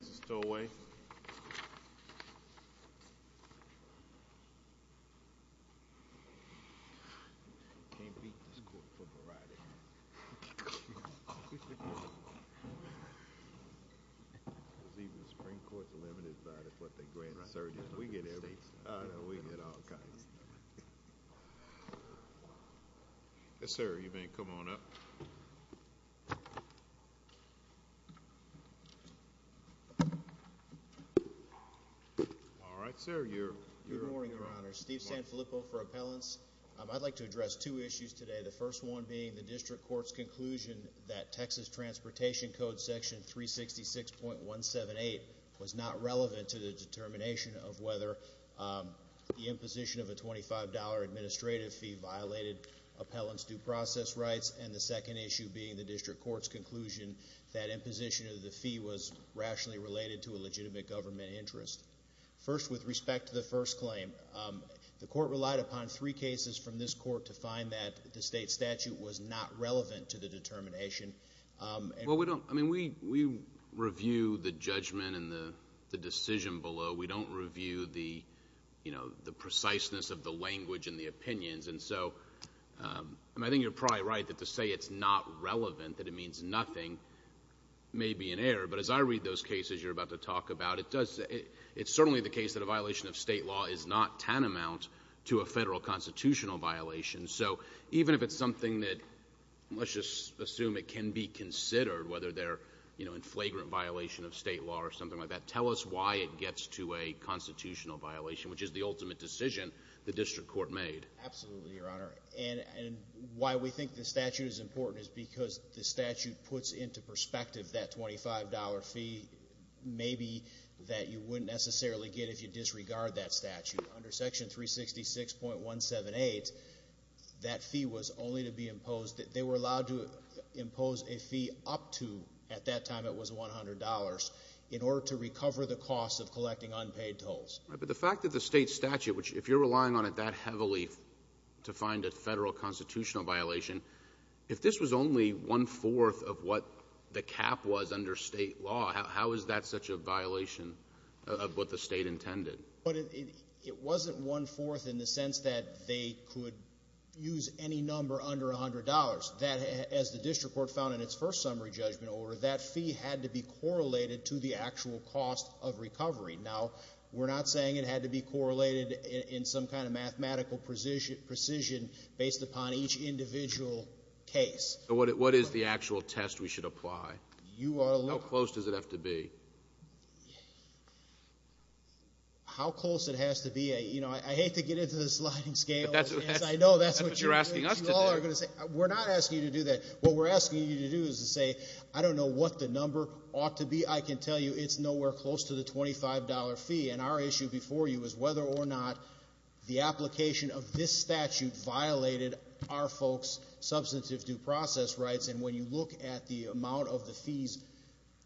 North Texas Tollway Yes sir, you may come on up. All right, sir, you're up. Good morning, Your Honor. Steve Sanfilippo for appellants. I'd like to address two issues today. The first one being the district court's conclusion that Texas Transportation Code Section 366.178 was not relevant to the determination of whether the imposition of a $25 administrative fee violated appellants' due process rights. And the second issue being the district court's conclusion that imposition of the fee was rationally related to a legitimate government interest. First, with respect to the first claim, the court relied upon three cases from this court to find that the state statute was not relevant to the determination. Well, we don't. I mean, we review the judgment and the decision below. We don't review the, you know, the preciseness of the language and the opinions. And so, I mean, I think you're probably right that to say it's not relevant, that it means nothing, may be an error. But as I read those cases you're about to talk about, it's certainly the case that a violation of state law is not tantamount to a federal constitutional violation. So even if it's something that, let's just assume it can be considered, whether they're, you know, a flagrant violation of state law or something like that, tell us why it gets to a constitutional violation, which is the ultimate decision the district court made. Absolutely, Your Honor. And why we think the statute is important is because the statute puts into perspective that $25 fee maybe that you wouldn't necessarily get if you disregard that statute. Under Section 366.178, that fee was only to be imposed. They were allowed to impose a fee up to, at that time it was $100, in order to recover the cost of collecting unpaid tolls. But the fact that the state statute, which if you're relying on it that heavily to find a federal constitutional violation, if this was only one-fourth of what the cap was under state law, how is that such a violation of what the State intended? It wasn't one-fourth in the sense that they could use any number under $100. That, as the district court found in its first summary judgment order, that fee had to be correlated to the actual cost of recovery. Now, we're not saying it had to be correlated in some kind of mathematical precision based upon each individual case. So what is the actual test we should apply? How close does it have to be? How close it has to be, you know, I hate to get into the sliding scale. That's what you're asking us to do. We're not asking you to do that. What we're asking you to do is to say, I don't know what the number ought to be. I can tell you it's nowhere close to the $25 fee. And our issue before you is whether or not the application of this statute violated our folks' substantive due process rights. And when you look at the amount of the fees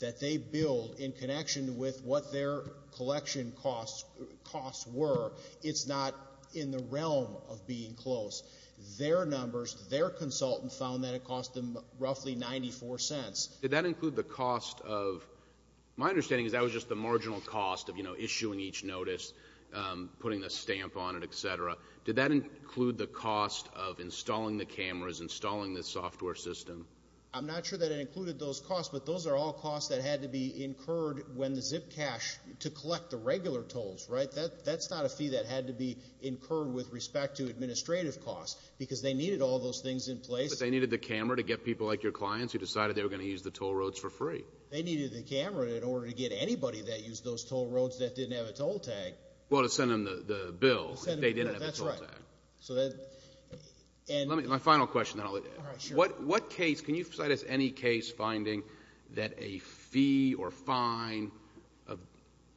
that they billed in connection with what their collection costs were, it's not in the realm of being close. Their numbers, their consultant found that it cost them roughly 94 cents. Did that include the cost of my understanding is that was just the marginal cost of, you know, issuing each notice, putting the stamp on it, et cetera. Did that include the cost of installing the cameras, installing the software system? I'm not sure that it included those costs, but those are all costs that had to be incurred when the ZIP cash to collect the regular tolls, right? That's not a fee that had to be incurred with respect to administrative costs because they needed all those things in place. But they needed the camera to get people like your clients who decided they were going to use the toll roads for free. They needed the camera in order to get anybody that used those toll roads that didn't have a toll tag. Well, to send them the bill if they didn't have a toll tag. That's right. My final question, then I'll let you. All right, sure. What case, can you cite us any case finding that a fee or fine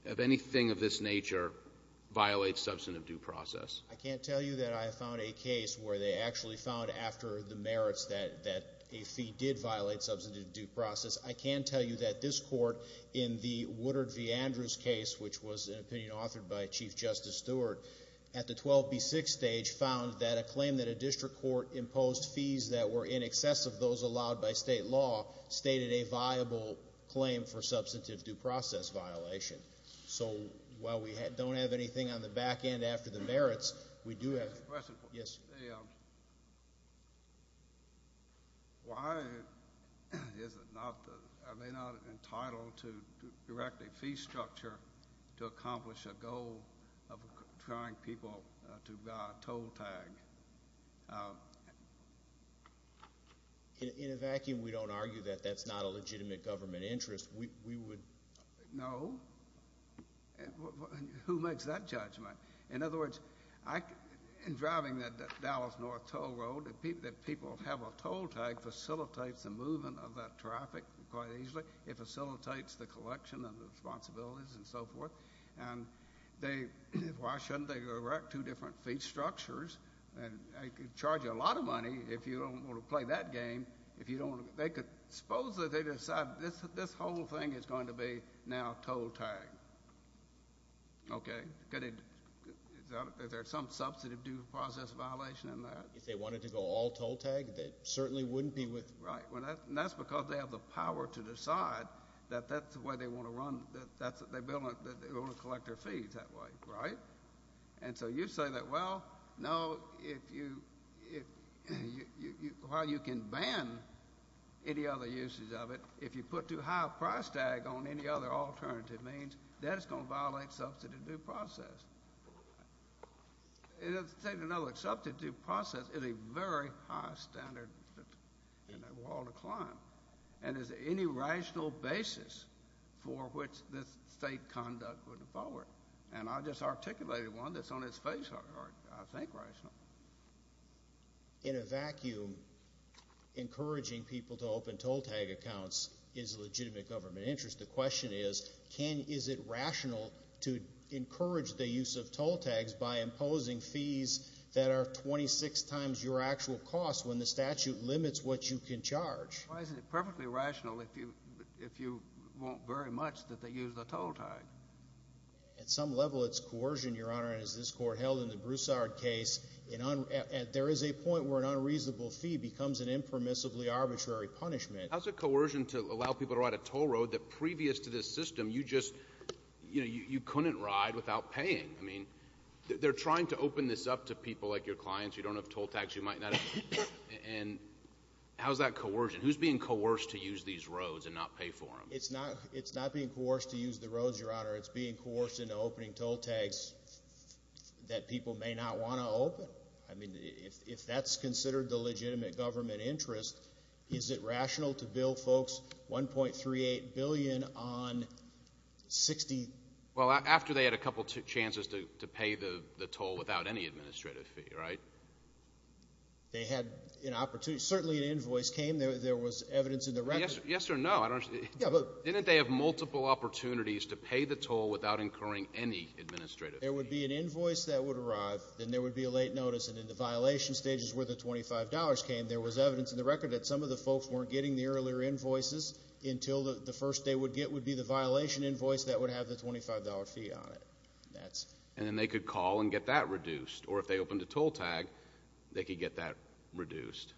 of anything of this nature violates substantive due process? I can't tell you that I found a case where they actually found after the merits that a fee did violate substantive due process. I can tell you that this court in the Woodard v. Andrews case, which was an opinion authored by Chief Justice Stewart, at the 12B6 stage found that a claim that a district court imposed fees that were in excess of those allowed by state law stated a viable claim for substantive due process violation. So while we don't have anything on the back end after the merits, we do have. I have a question. Yes. Why is it not, are they not entitled to direct a fee structure to accomplish a goal of trying people to buy a toll tag? In a vacuum, we don't argue that that's not a legitimate government interest. We would know. Who makes that judgment? In other words, in driving that Dallas North toll road, that people have a toll tag facilitates the movement of that traffic quite easily. It facilitates the collection of the responsibilities and so forth. And why shouldn't they direct two different fee structures? They could charge you a lot of money if you don't want to play that game. Suppose that they decide this whole thing is going to be now toll tag. Okay? Is there some substantive due process violation in that? If they wanted to go all toll tag, they certainly wouldn't be with. Right. And that's because they have the power to decide that that's the way they want to run, that they want to collect their fees that way. Right? And so you say that, well, no, if you can ban any other uses of it, if you put too high a price tag on any other alternative means, that is going to violate substantive due process. And I'll tell you another, substantive due process is a very high standard in a wall to climb and is any rational basis for which this state conduct would forward. And I just articulated one that's on its face, I think, rational. In a vacuum, encouraging people to open toll tag accounts is a legitimate government interest. The question is, Ken, is it rational to encourage the use of toll tags by imposing fees that are 26 times your actual cost when the statute limits what you can charge? Why is it perfectly rational if you want very much that they use the toll tag? At some level it's coercion, Your Honor, and as this Court held in the Broussard case, there is a point where an unreasonable fee becomes an impermissibly arbitrary punishment. How is it coercion to allow people to ride a toll road that previous to this system you just, you know, you couldn't ride without paying? I mean, they're trying to open this up to people like your clients who don't have toll tags, and how is that coercion? Who's being coerced to use these roads and not pay for them? It's not being coerced to use the roads, Your Honor. It's being coerced into opening toll tags that people may not want to open. I mean, if that's considered the legitimate government interest, is it rational to bill folks $1.38 billion on 60— Well, after they had a couple chances to pay the toll without any administrative fee, right? They had an opportunity. Certainly an invoice came. There was evidence in the record. Yes or no? Didn't they have multiple opportunities to pay the toll without incurring any administrative fee? There would be an invoice that would arrive, and there would be a late notice, and in the violation stages where the $25 came, there was evidence in the record that some of the folks weren't getting the earlier invoices until the first they would get would be the violation invoice that would have the $25 fee on it. And then they could call and get that reduced. Or if they opened a toll tag, they could get that reduced.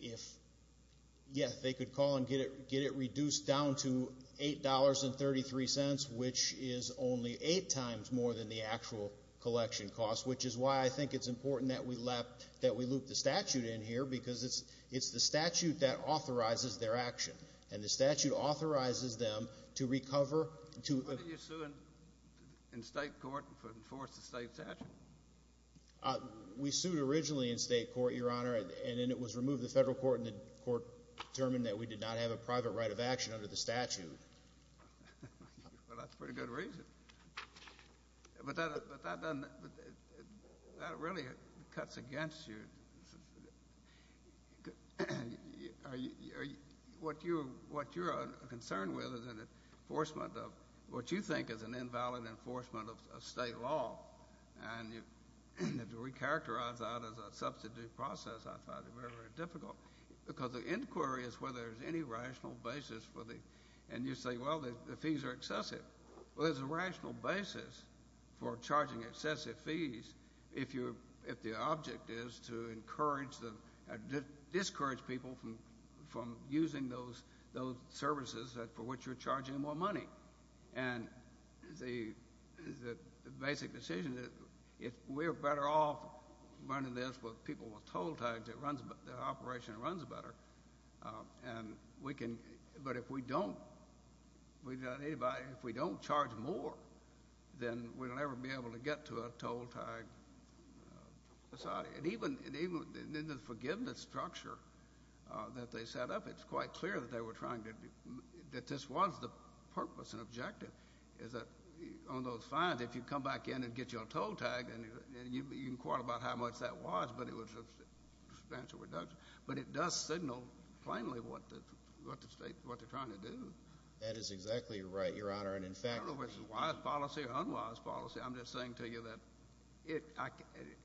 Yes, they could call and get it reduced down to $8.33, which is only eight times more than the actual collection cost, which is why I think it's important that we loop the statute in here because it's the statute that authorizes their action, and the statute authorizes them to recover. When did you sue in state court to enforce the state statute? We sued originally in state court, Your Honor, and then it was removed in the federal court, and the court determined that we did not have a private right of action under the statute. Well, that's a pretty good reason. But that really cuts against you. What you're concerned with is an enforcement of what you think is an invalid enforcement of state law. And to recharacterize that as a substitute process, I find it very, very difficult, because the inquiry is whether there's any rational basis for the thing. And you say, well, the fees are excessive. Well, there's a rational basis for charging excessive fees if the object is to encourage or discourage people from using those services for which you're charging more money. And the basic decision is if we're better off running this with people with toll tags, the operation runs better. But if we don't charge more, then we'll never be able to get to a toll-tag society. And even in the forgiveness structure that they set up, it's quite clear that this was the purpose and objective, is that on those fines, if you come back in and get you a toll tag, you can quarrel about how much that was, but it was substantial reduction. But it does signal plainly what the state, what they're trying to do. That is exactly right, Your Honor. And, in fact, I don't know if it's wise policy or unwise policy. I'm just saying to you that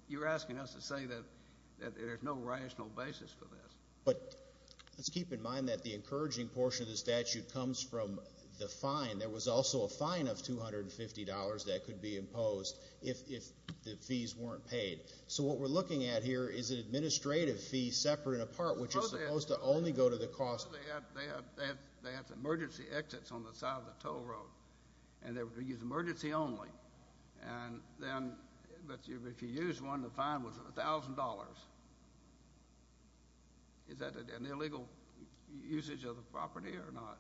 you're asking us to say that there's no rational basis for this. But let's keep in mind that the encouraging portion of the statute comes from the fine. There was also a fine of $250 that could be imposed if the fees weren't paid. So what we're looking at here is an administrative fee separate and apart, which is supposed to only go to the cost. They have emergency exits on the side of the toll road, and they use emergency only. And then if you use one, the fine was $1,000. Is that an illegal usage of the property or not?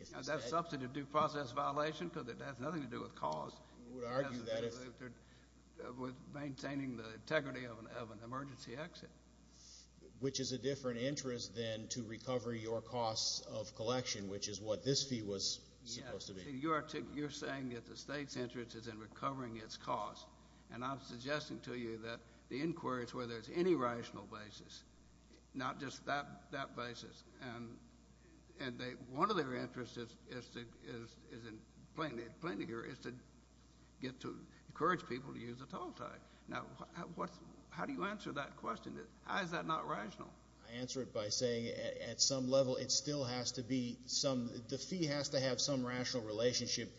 Is that a substantive due process violation because it has nothing to do with cost? It has to do with maintaining the integrity of an emergency exit. Which is a different interest than to recover your costs of collection, which is what this fee was supposed to be. You're saying that the state's interest is in recovering its costs. And I'm suggesting to you that the inquiry is whether there's any rational basis, not just that basis. And one of their interests is, plainly here, is to get to encourage people to use a toll tithe. Now, how do you answer that question? How is that not rational? I answer it by saying, at some level, it still has to be some the fee has to have some rational relationship.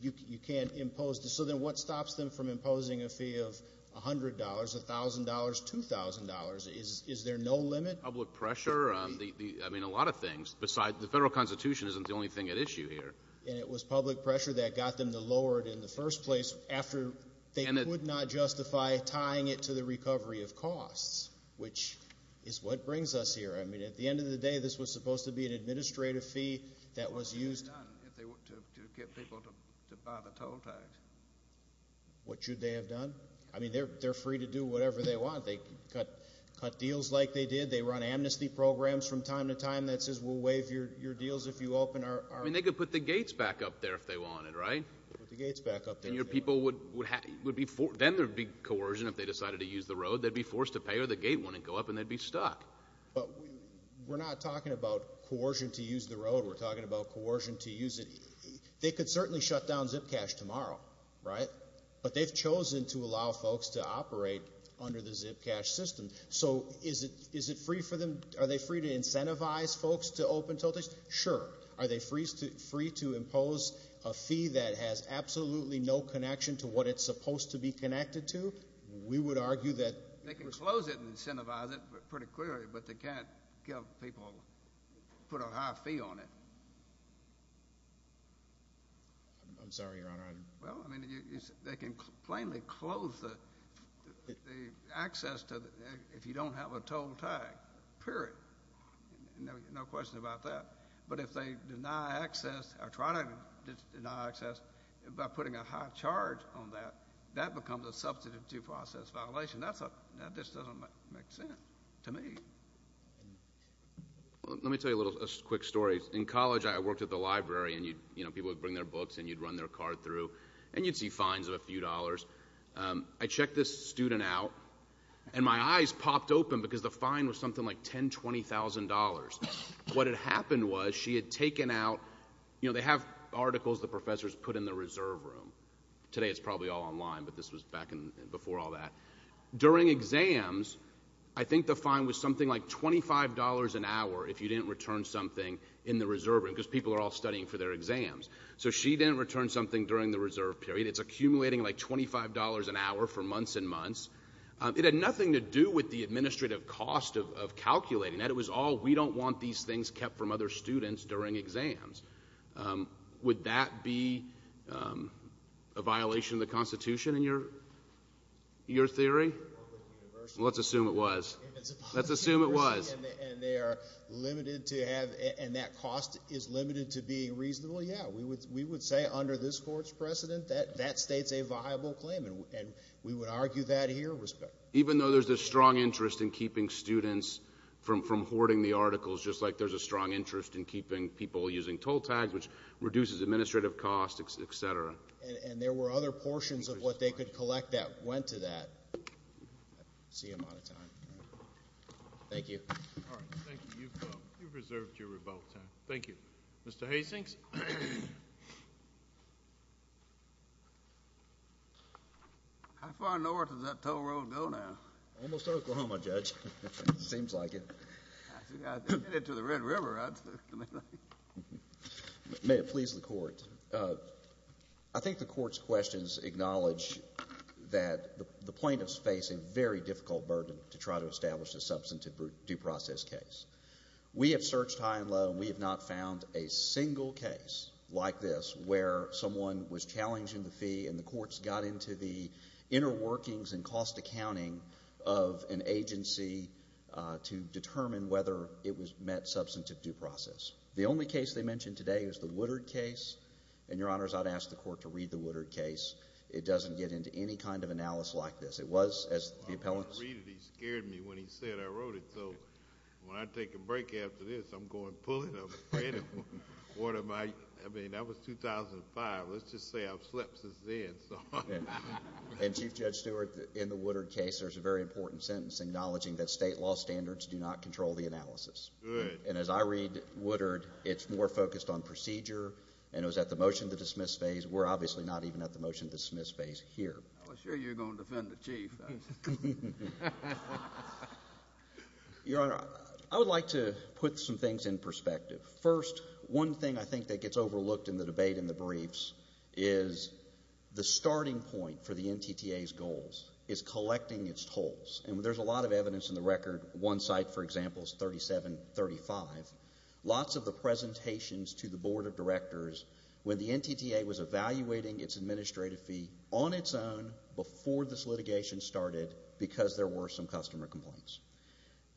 You can't impose. So then what stops them from imposing a fee of $100, $1,000, $2,000? Is there no limit? Public pressure. I mean, a lot of things. Besides, the Federal Constitution isn't the only thing at issue here. And it was public pressure that got them to lower it in the first place after they could not justify tying it to the recovery of costs, which is what brings us here. I mean, at the end of the day, this was supposed to be an administrative fee that was used. What should they have done if they were to get people to buy the toll tithe? What should they have done? I mean, they're free to do whatever they want. They can cut deals like they did. They run amnesty programs from time to time that says we'll waive your deals if you open our – I mean, they could put the gates back up there if they wanted, right? Put the gates back up there. And your people would be – then there would be coercion if they decided to use the road. They'd be forced to pay or the gate wouldn't go up and they'd be stuck. But we're not talking about coercion to use the road. We're talking about coercion to use it. They could certainly shut down Zipcash tomorrow, right? But they've chosen to allow folks to operate under the Zipcash system. So is it free for them? Are they free to incentivize folks to open toll tithes? Sure. Are they free to impose a fee that has absolutely no connection to what it's supposed to be connected to? We would argue that – They can close it and incentivize it pretty clearly, but they can't give people – put a high fee on it. I'm sorry, Your Honor. Well, I mean, they can plainly close the access if you don't have a toll tag, period. No question about that. But if they deny access or try to deny access by putting a high charge on that, that becomes a substantive due process violation. That just doesn't make sense to me. Let me tell you a little quick story. In college, I worked at the library, and, you know, people would bring their books and you'd run their card through, and you'd see fines of a few dollars. I checked this student out, and my eyes popped open because the fine was something like $10,000, $20,000. What had happened was she had taken out – you know, they have articles the professors put in the reserve room. Today it's probably all online, but this was back before all that. During exams, I think the fine was something like $25 an hour if you didn't return something in the reserve room because people are all studying for their exams. So she didn't return something during the reserve period. It's accumulating like $25 an hour for months and months. It had nothing to do with the administrative cost of calculating that. It was all we don't want these things kept from other students during exams. Would that be a violation of the Constitution in your theory? Let's assume it was. Let's assume it was. And they are limited to have – and that cost is limited to being reasonable? Yeah, we would say under this court's precedent that that states a viable claim, and we would argue that here. Even though there's a strong interest in keeping students from hoarding the articles, just like there's a strong interest in keeping people using toll tags, which reduces administrative costs, et cetera. And there were other portions of what they could collect that went to that. I see I'm out of time. Thank you. All right. Thank you. You've reserved your rebuttal time. Thank you. Mr. Hastings? How far north does that toll road go now? Almost to Oklahoma, Judge. Seems like it. To the Red River. May it please the Court. I think the Court's questions acknowledge that the plaintiffs face a very difficult burden to try to establish a substantive due process case. We have searched high and low, and we have not found a single case like this where someone was challenging the fee and the courts got into the inner workings and cost accounting of an agency to determine whether it was met substantive due process. The only case they mentioned today is the Woodard case. And, Your Honors, I'd ask the Court to read the Woodard case. It doesn't get into any kind of analysis like this. It was, as the appellant said— Well, I didn't read it. He scared me when he said I wrote it. So when I take a break after this, I'm going to pull it? I'm afraid of him. What am I—I mean, that was 2005. Let's just say I've slept since then. And, Chief Judge Stewart, in the Woodard case there's a very important sentence acknowledging that state law standards do not control the analysis. Good. And as I read Woodard, it's more focused on procedure, and it was at the motion to dismiss phase. We're obviously not even at the motion to dismiss phase here. I was sure you were going to defend the Chief. Your Honor, I would like to put some things in perspective. First, one thing I think that gets overlooked in the debate in the briefs is the starting point for the NTTA's goals is collecting its tolls. And there's a lot of evidence in the record. One site, for example, is 3735. Lots of the presentations to the Board of Directors when the NTTA was evaluating its administrative fee on its own before this litigation started because there were some customer complaints.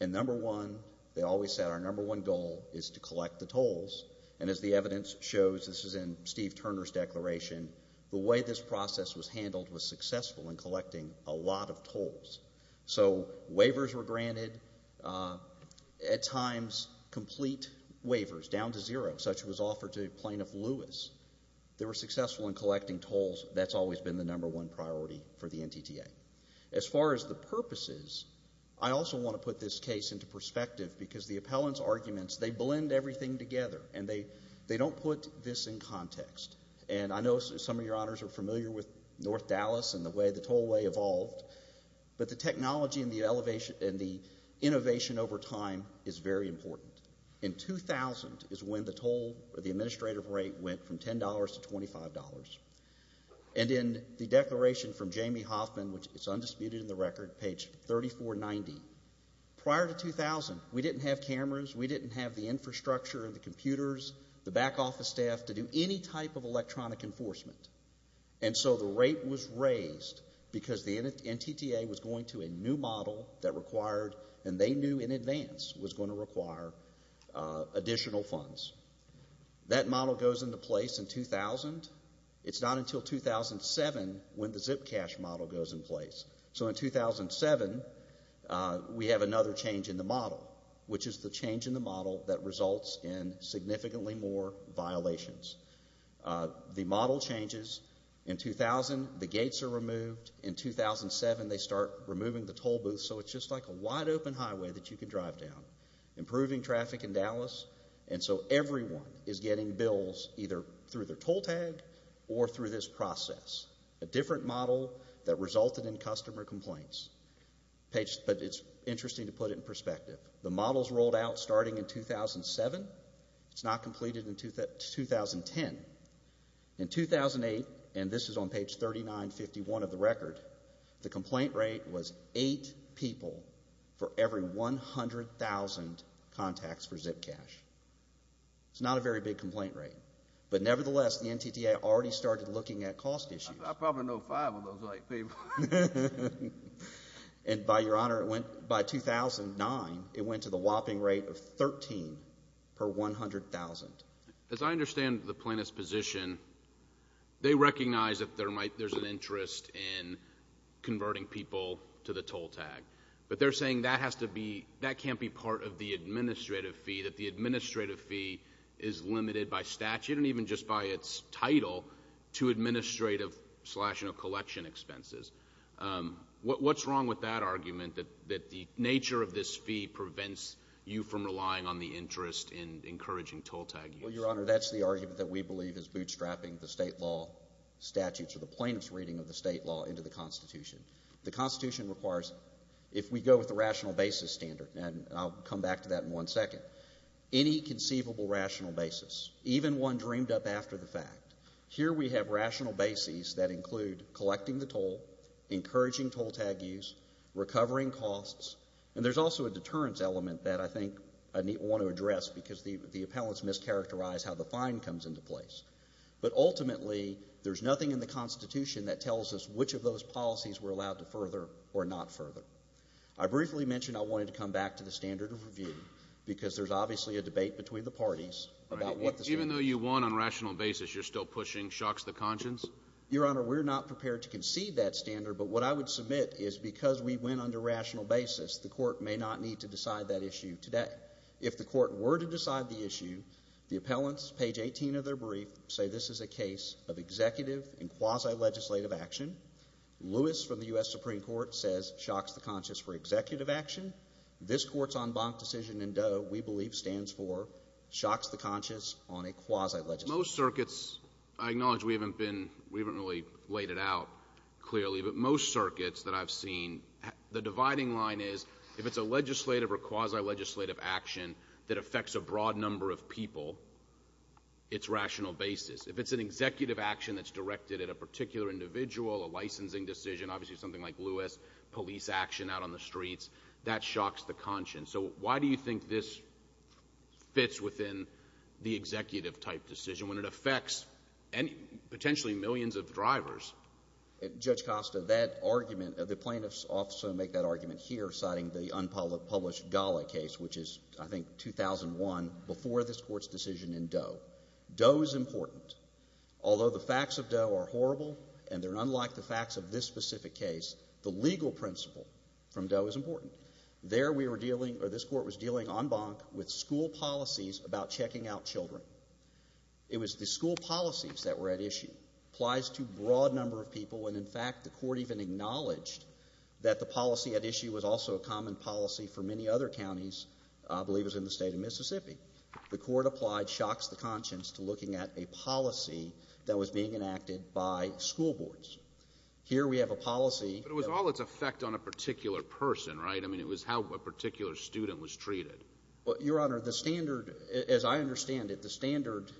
And number one, they always said our number one goal is to collect the tolls. And as the evidence shows, this is in Steve Turner's declaration, the way this process was handled was successful in collecting a lot of tolls. So waivers were granted, at times complete waivers down to zero. Such was offered to Plaintiff Lewis. They were successful in collecting tolls. That's always been the number one priority for the NTTA. As far as the purposes, I also want to put this case into perspective because the appellant's arguments, they blend everything together, and they don't put this in context. And I know some of your honors are familiar with North Dallas and the way the tollway evolved, but the technology and the innovation over time is very important. In 2000 is when the toll or the administrative rate went from $10 to $25. And in the declaration from Jamie Hoffman, which is undisputed in the record, page 3490, prior to 2000, we didn't have cameras, we didn't have the infrastructure and the computers, the back office staff, to do any type of electronic enforcement. And so the rate was raised because the NTTA was going to a new model that required, and they knew in advance, was going to require additional funds. That model goes into place in 2000. It's not until 2007 when the Zipcash model goes in place. So in 2007, we have another change in the model, which is the change in the model that results in significantly more violations. The model changes. In 2000, the gates are removed. In 2007, they start removing the tollbooths, so it's just like a wide-open highway that you can drive down, improving traffic in Dallas. And so everyone is getting bills either through their toll tag or through this process. A different model that resulted in customer complaints. But it's interesting to put it in perspective. The model's rolled out starting in 2007. It's not completed until 2010. In 2008, and this is on page 3951 of the record, the complaint rate was eight people for every 100,000 contacts for Zipcash. It's not a very big complaint rate. But nevertheless, the NTTA already started looking at cost issues. I probably know five of those white people. And by your honor, by 2009, it went to the whopping rate of 13 per 100,000. As I understand the plaintiff's position, they recognize that there's an interest in converting people to the toll tag. But they're saying that can't be part of the administrative fee, that the administrative fee is limited by statute and even just by its title to administrative slash, you know, collection expenses. What's wrong with that argument, that the nature of this fee prevents you from relying on the interest in encouraging toll tag use? Well, your honor, that's the argument that we believe is bootstrapping the state law statutes or the plaintiff's reading of the state law into the Constitution. The Constitution requires, if we go with the rational basis standard, and I'll come back to that in one second, any conceivable rational basis, even one dreamed up after the fact. Here we have rational bases that include collecting the toll, encouraging toll tag use, recovering costs, because the appellants mischaracterize how the fine comes into place. But ultimately, there's nothing in the Constitution that tells us which of those policies we're allowed to further or not further. I briefly mentioned I wanted to come back to the standard of review because there's obviously a debate between the parties about what the standard is. Even though you won on rational basis, you're still pushing shocks to conscience? Your honor, we're not prepared to concede that standard, but what I would submit is because we went under rational basis, the court may not need to decide that issue today. If the court were to decide the issue, the appellants, page 18 of their brief, say this is a case of executive and quasi-legislative action. Lewis from the U.S. Supreme Court says shocks to conscience for executive action. This Court's en banc decision in Doe, we believe, stands for shocks to conscience on a quasi-legislative action. Most circuits, I acknowledge we haven't really laid it out clearly, but most circuits that I've seen, the dividing line is if it's a legislative or quasi-legislative action that affects a broad number of people, it's rational basis. If it's an executive action that's directed at a particular individual, a licensing decision, obviously something like Lewis, police action out on the streets, that shocks the conscience. So why do you think this fits within the executive type decision when it affects potentially millions of drivers? Judge Costa, that argument, the plaintiffs also make that argument here, citing the unpublished Gala case, which is, I think, 2001, before this Court's decision in Doe. Doe is important. Although the facts of Doe are horrible and they're unlike the facts of this specific case, the legal principle from Doe is important. There we were dealing, or this Court was dealing en banc with school policies about checking out children. It was the school policies that were at issue applies to a broad number of people when, in fact, the Court even acknowledged that the policy at issue was also a common policy for many other counties, I believe it was in the state of Mississippi. The Court applied shocks to conscience to looking at a policy that was being enacted by school boards. Here we have a policy. But it was all its effect on a particular person, right? I mean, it was how a particular student was treated. Your Honor, the standard, as I understand it, the standard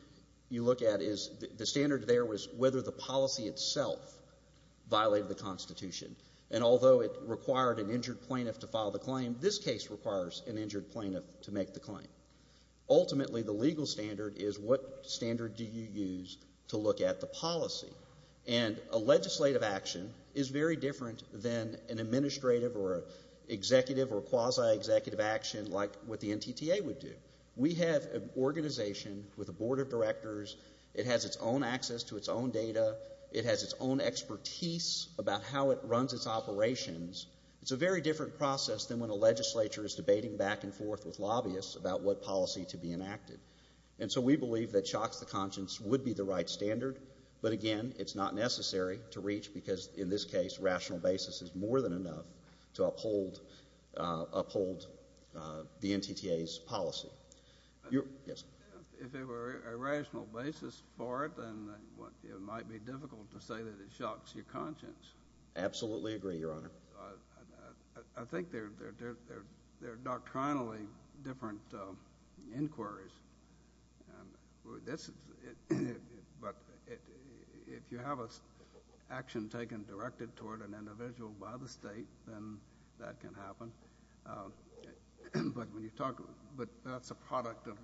you look at is the standard there was whether the policy itself violated the Constitution. And although it required an injured plaintiff to file the claim, this case requires an injured plaintiff to make the claim. Ultimately, the legal standard is what standard do you use to look at the policy. And a legislative action is very different than an administrative or an executive or a quasi-executive action like what the NTTA would do. We have an organization with a board of directors. It has its own access to its own data. It has its own expertise about how it runs its operations. It's a very different process than when a legislature is debating back and forth with lobbyists about what policy to be enacted. And so we believe that shocks to conscience would be the right standard. But again, it's not necessary to reach because, in this case, rational basis is more than enough to uphold the NTTA's policy. Yes. If it were a rational basis for it, then it might be difficult to say that it shocks your conscience. Absolutely agree, Your Honor. I think they're doctrinally different inquiries. But if you have an action taken directed toward an individual by the state, then that can happen. But that's a product of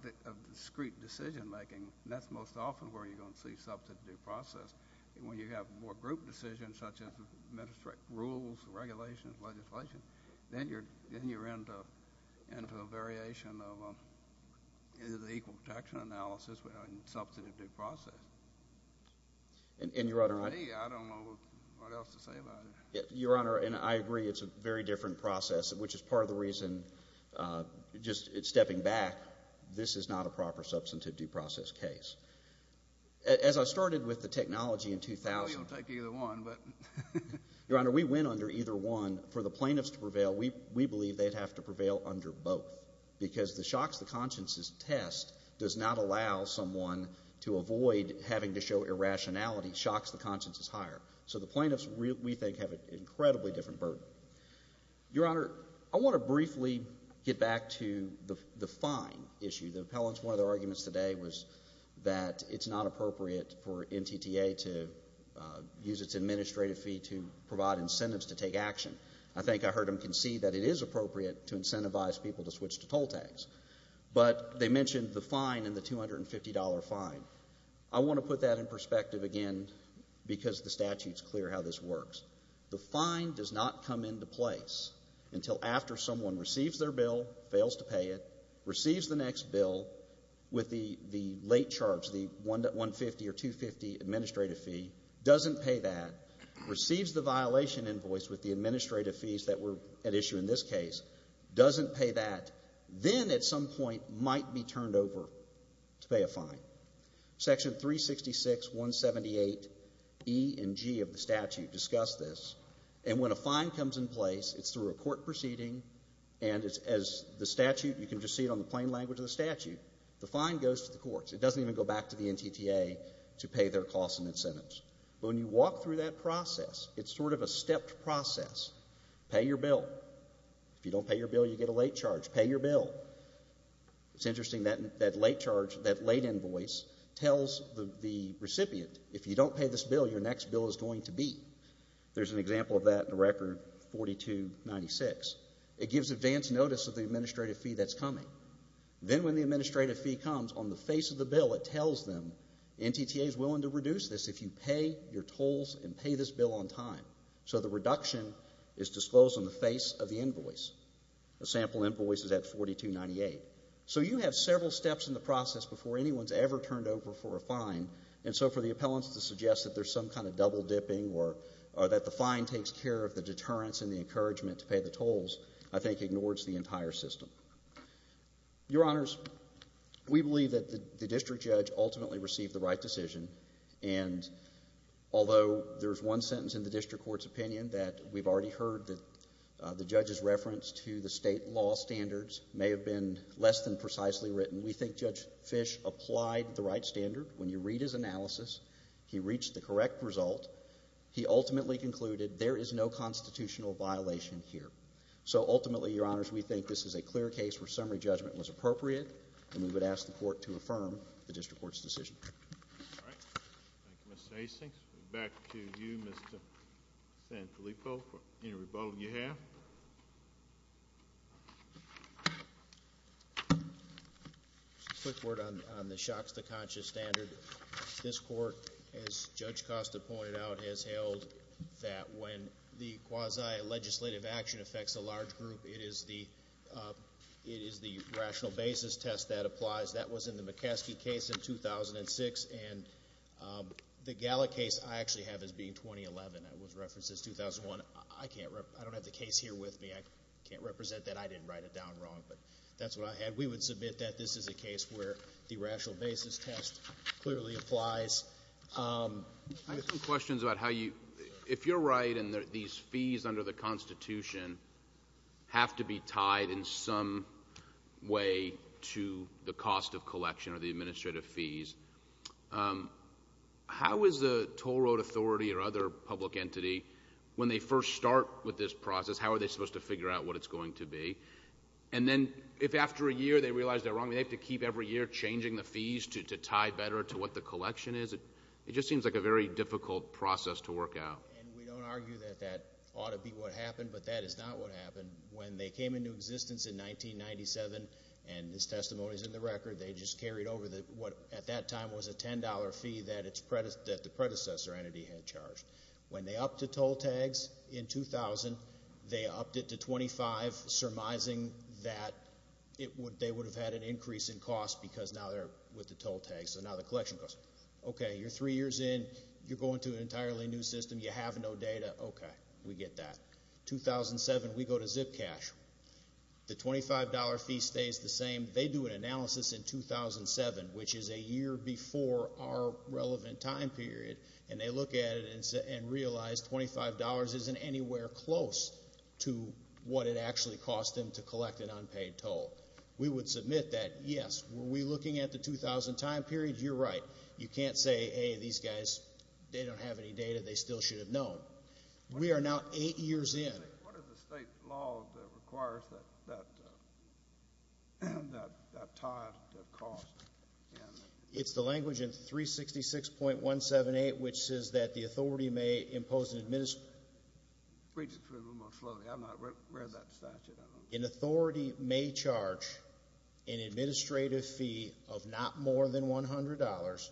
discrete decision-making, and that's most often where you're going to see substantive process. When you have more group decisions, such as administrative rules, regulations, legislation, then you're into a variation of the equal protection analysis with a substantive due process. And, Your Honor, I agree it's a very different process, which is part of the reason, just stepping back, this is not a proper substantive due process case. As I started with the technology in 2000, Your Honor, we went under either one. For the plaintiffs to prevail, we believe they'd have to prevail under both because the shocks the consciences test does not allow someone to avoid having to show irrationality. Shocks the conscience is higher. So the plaintiffs, we think, have an incredibly different burden. Your Honor, I want to briefly get back to the fine issue. The appellants, one of their arguments today was that it's not appropriate for NTTA to use its administrative fee to provide incentives to take action. I think I heard them concede that it is appropriate to incentivize people to switch to toll tags. But they mentioned the fine and the $250 fine. I want to put that in perspective again because the statute's clear how this works. The fine does not come into place until after someone receives their bill, fails to pay it, receives the next bill with the late charge, the $150 or $250 administrative fee, doesn't pay that, receives the violation invoice with the administrative fees that were at issue in this case, doesn't pay that, then at some point might be turned over to pay a fine. Section 366.178E and G of the statute discuss this. And when a fine comes in place, it's through a court proceeding, and as the statute, you can just see it on the plain language of the statute, the fine goes to the courts. It doesn't even go back to the NTTA to pay their costs and incentives. But when you walk through that process, it's sort of a stepped process. Pay your bill. If you don't pay your bill, you get a late charge. Pay your bill. It's interesting, that late charge, that late invoice tells the recipient, if you don't pay this bill, your next bill is going to be. There's an example of that in the record, 4296. It gives advance notice of the administrative fee that's coming. Then when the administrative fee comes, on the face of the bill, it tells them, the NTTA is willing to reduce this if you pay your tolls and pay this bill on time. So the reduction is disclosed on the face of the invoice. The sample invoice is at 4298. So you have several steps in the process before anyone's ever turned over for a fine, and so for the appellants to suggest that there's some kind of double dipping or that the fine takes care of the deterrence and the encouragement to pay the tolls, I think ignores the entire system. Your Honors, we believe that the district judge ultimately received the right decision, and although there's one sentence in the district court's opinion that we've already heard, that the judge's reference to the state law standards may have been less than precisely written, we think Judge Fish applied the right standard. When you read his analysis, he reached the correct result. He ultimately concluded there is no constitutional violation here. So ultimately, Your Honors, we think this is a clear case where summary judgment was appropriate, and we would ask the court to affirm the district court's decision. All right. Thank you, Mr. Asinx. Back to you, Mr. Sanfilippo, for any rebuttal you have. Just a quick word on the shocks to conscious standard. This court, as Judge Costa pointed out, has held that when the quasi-legislative action affects a large group, it is the rational basis test that applies. That was in the McCaskey case in 2006, and the Gallic case I actually have as being 2011. That was referenced as 2001. I don't have the case here with me. I can't represent that. I didn't write it down wrong, but that's what I had. We would submit that this is a case where the rational basis test clearly applies. I have some questions about how you – if you're right and these fees under the Constitution have to be tied in some way to the cost of collection or the administrative fees, how is the toll road authority or other public entity, when they first start with this process, how are they supposed to figure out what it's going to be? And then if after a year they realize they're wrong, they have to keep every year changing the fees to tie better to what the collection is. It just seems like a very difficult process to work out. We don't argue that that ought to be what happened, but that is not what happened. When they came into existence in 1997, and this testimony is in the record, they just carried over what at that time was a $10 fee that the predecessor entity had charged. When they upped the toll tags in 2000, they upped it to $25, surmising that they would have had an increase in cost because now they're with the toll tags. So now the collection goes, okay, you're three years in. You're going to an entirely new system. You have no data. Okay. We get that. 2007, we go to ZipCash. The $25 fee stays the same. They do an analysis in 2007, which is a year before our relevant time period, and they look at it and realize $25 isn't anywhere close to what it actually cost them to collect an unpaid toll. We would submit that, yes, were we looking at the 2000 time period? You're right. You can't say, hey, these guys, they don't have any data. They still should have known. We are now eight years in. What is the state law that requires that type of cost? It's the language in 366.178, which says that the authority may impose an administrative fee. Read it a little more slowly. I've not read that statute. An authority may charge an administrative fee of not more than $100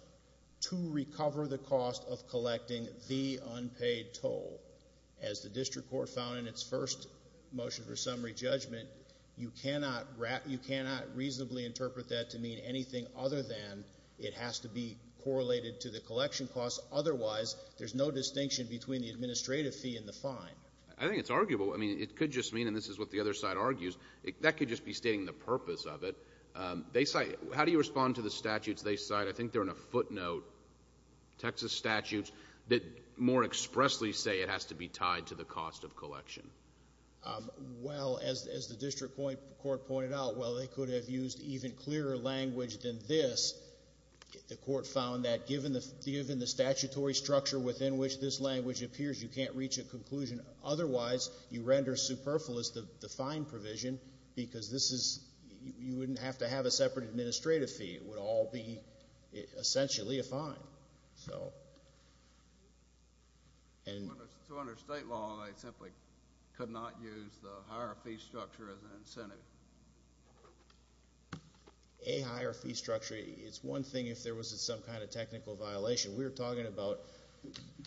to recover the cost of collecting the unpaid toll. As the district court found in its first motion for summary judgment, you cannot reasonably interpret that to mean anything other than it has to be correlated to the collection cost. Otherwise, there's no distinction between the administrative fee and the fine. I think it's arguable. I mean, it could just mean, and this is what the other side argues, that could just be stating the purpose of it. How do you respond to the statutes they cite? I think they're in a footnote, Texas statutes, that more expressly say it has to be tied to the cost of collection. Well, as the district court pointed out, while they could have used even clearer language than this, the court found that given the statutory structure within which this language appears, you can't reach a conclusion. Otherwise, you render superfluous the fine provision because you wouldn't have to have a separate administrative fee. It would all be essentially a fine. So under state law, they simply could not use the higher fee structure as an incentive? A higher fee structure, it's one thing if there was some kind of technical violation. We're talking about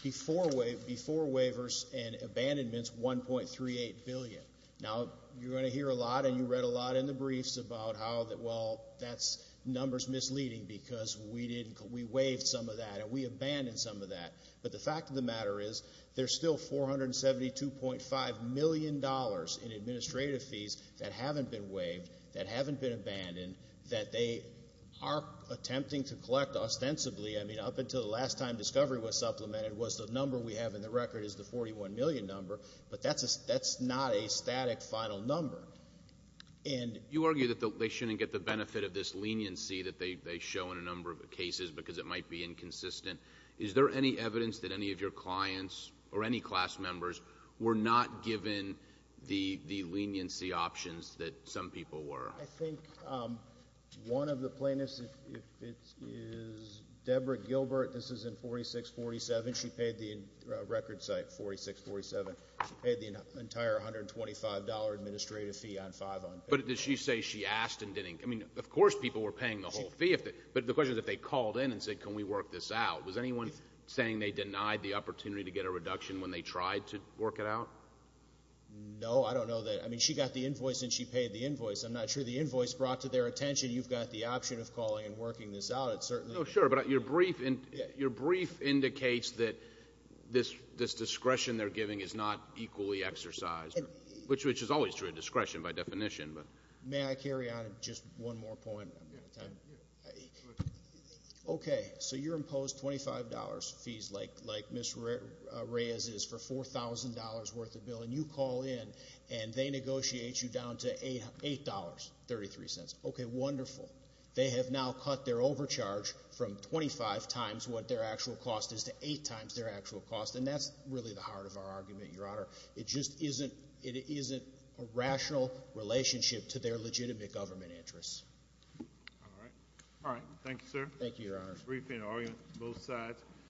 before waivers and abandonments, $1.38 billion. Now, you're going to hear a lot and you read a lot in the briefs about how, well, that number's misleading because we waived some of that and we abandoned some of that. But the fact of the matter is there's still $472.5 million in administrative fees that haven't been waived, that haven't been abandoned, that they are attempting to collect ostensibly. I mean, up until the last time discovery was supplemented was the number we have in the record is the $41 million number. But that's not a static final number. And you argue that they shouldn't get the benefit of this leniency that they show in a number of cases because it might be inconsistent. Is there any evidence that any of your clients or any class members were not given the leniency options that some people were? I think one of the plaintiffs is Deborah Gilbert. This is in 4647. She paid the record site, 4647. She paid the entire $125 administrative fee on five unpaid. But did she say she asked and didn't? I mean, of course people were paying the whole fee. But the question is if they called in and said, can we work this out, was anyone saying they denied the opportunity to get a reduction when they tried to work it out? No, I don't know that. I mean, she got the invoice and she paid the invoice. I'm not sure the invoice brought to their attention you've got the option of calling and working this out. It's certainly. No, sure, but your brief indicates that this discretion they're giving is not equally exercised, which is always true of discretion by definition. May I carry on? Just one more point. Okay, so you're imposed $25 fees like Ms. Reyes is for $4,000 worth of bill. And you call in and they negotiate you down to $8.33. Okay, wonderful. They have now cut their overcharge from 25 times what their actual cost is to 8 times their actual cost. And that's really the heart of our argument, Your Honor. It just isn't a rational relationship to their legitimate government interests. All right. All right, thank you, sir. Thank you, Your Honor. Briefing on both sides.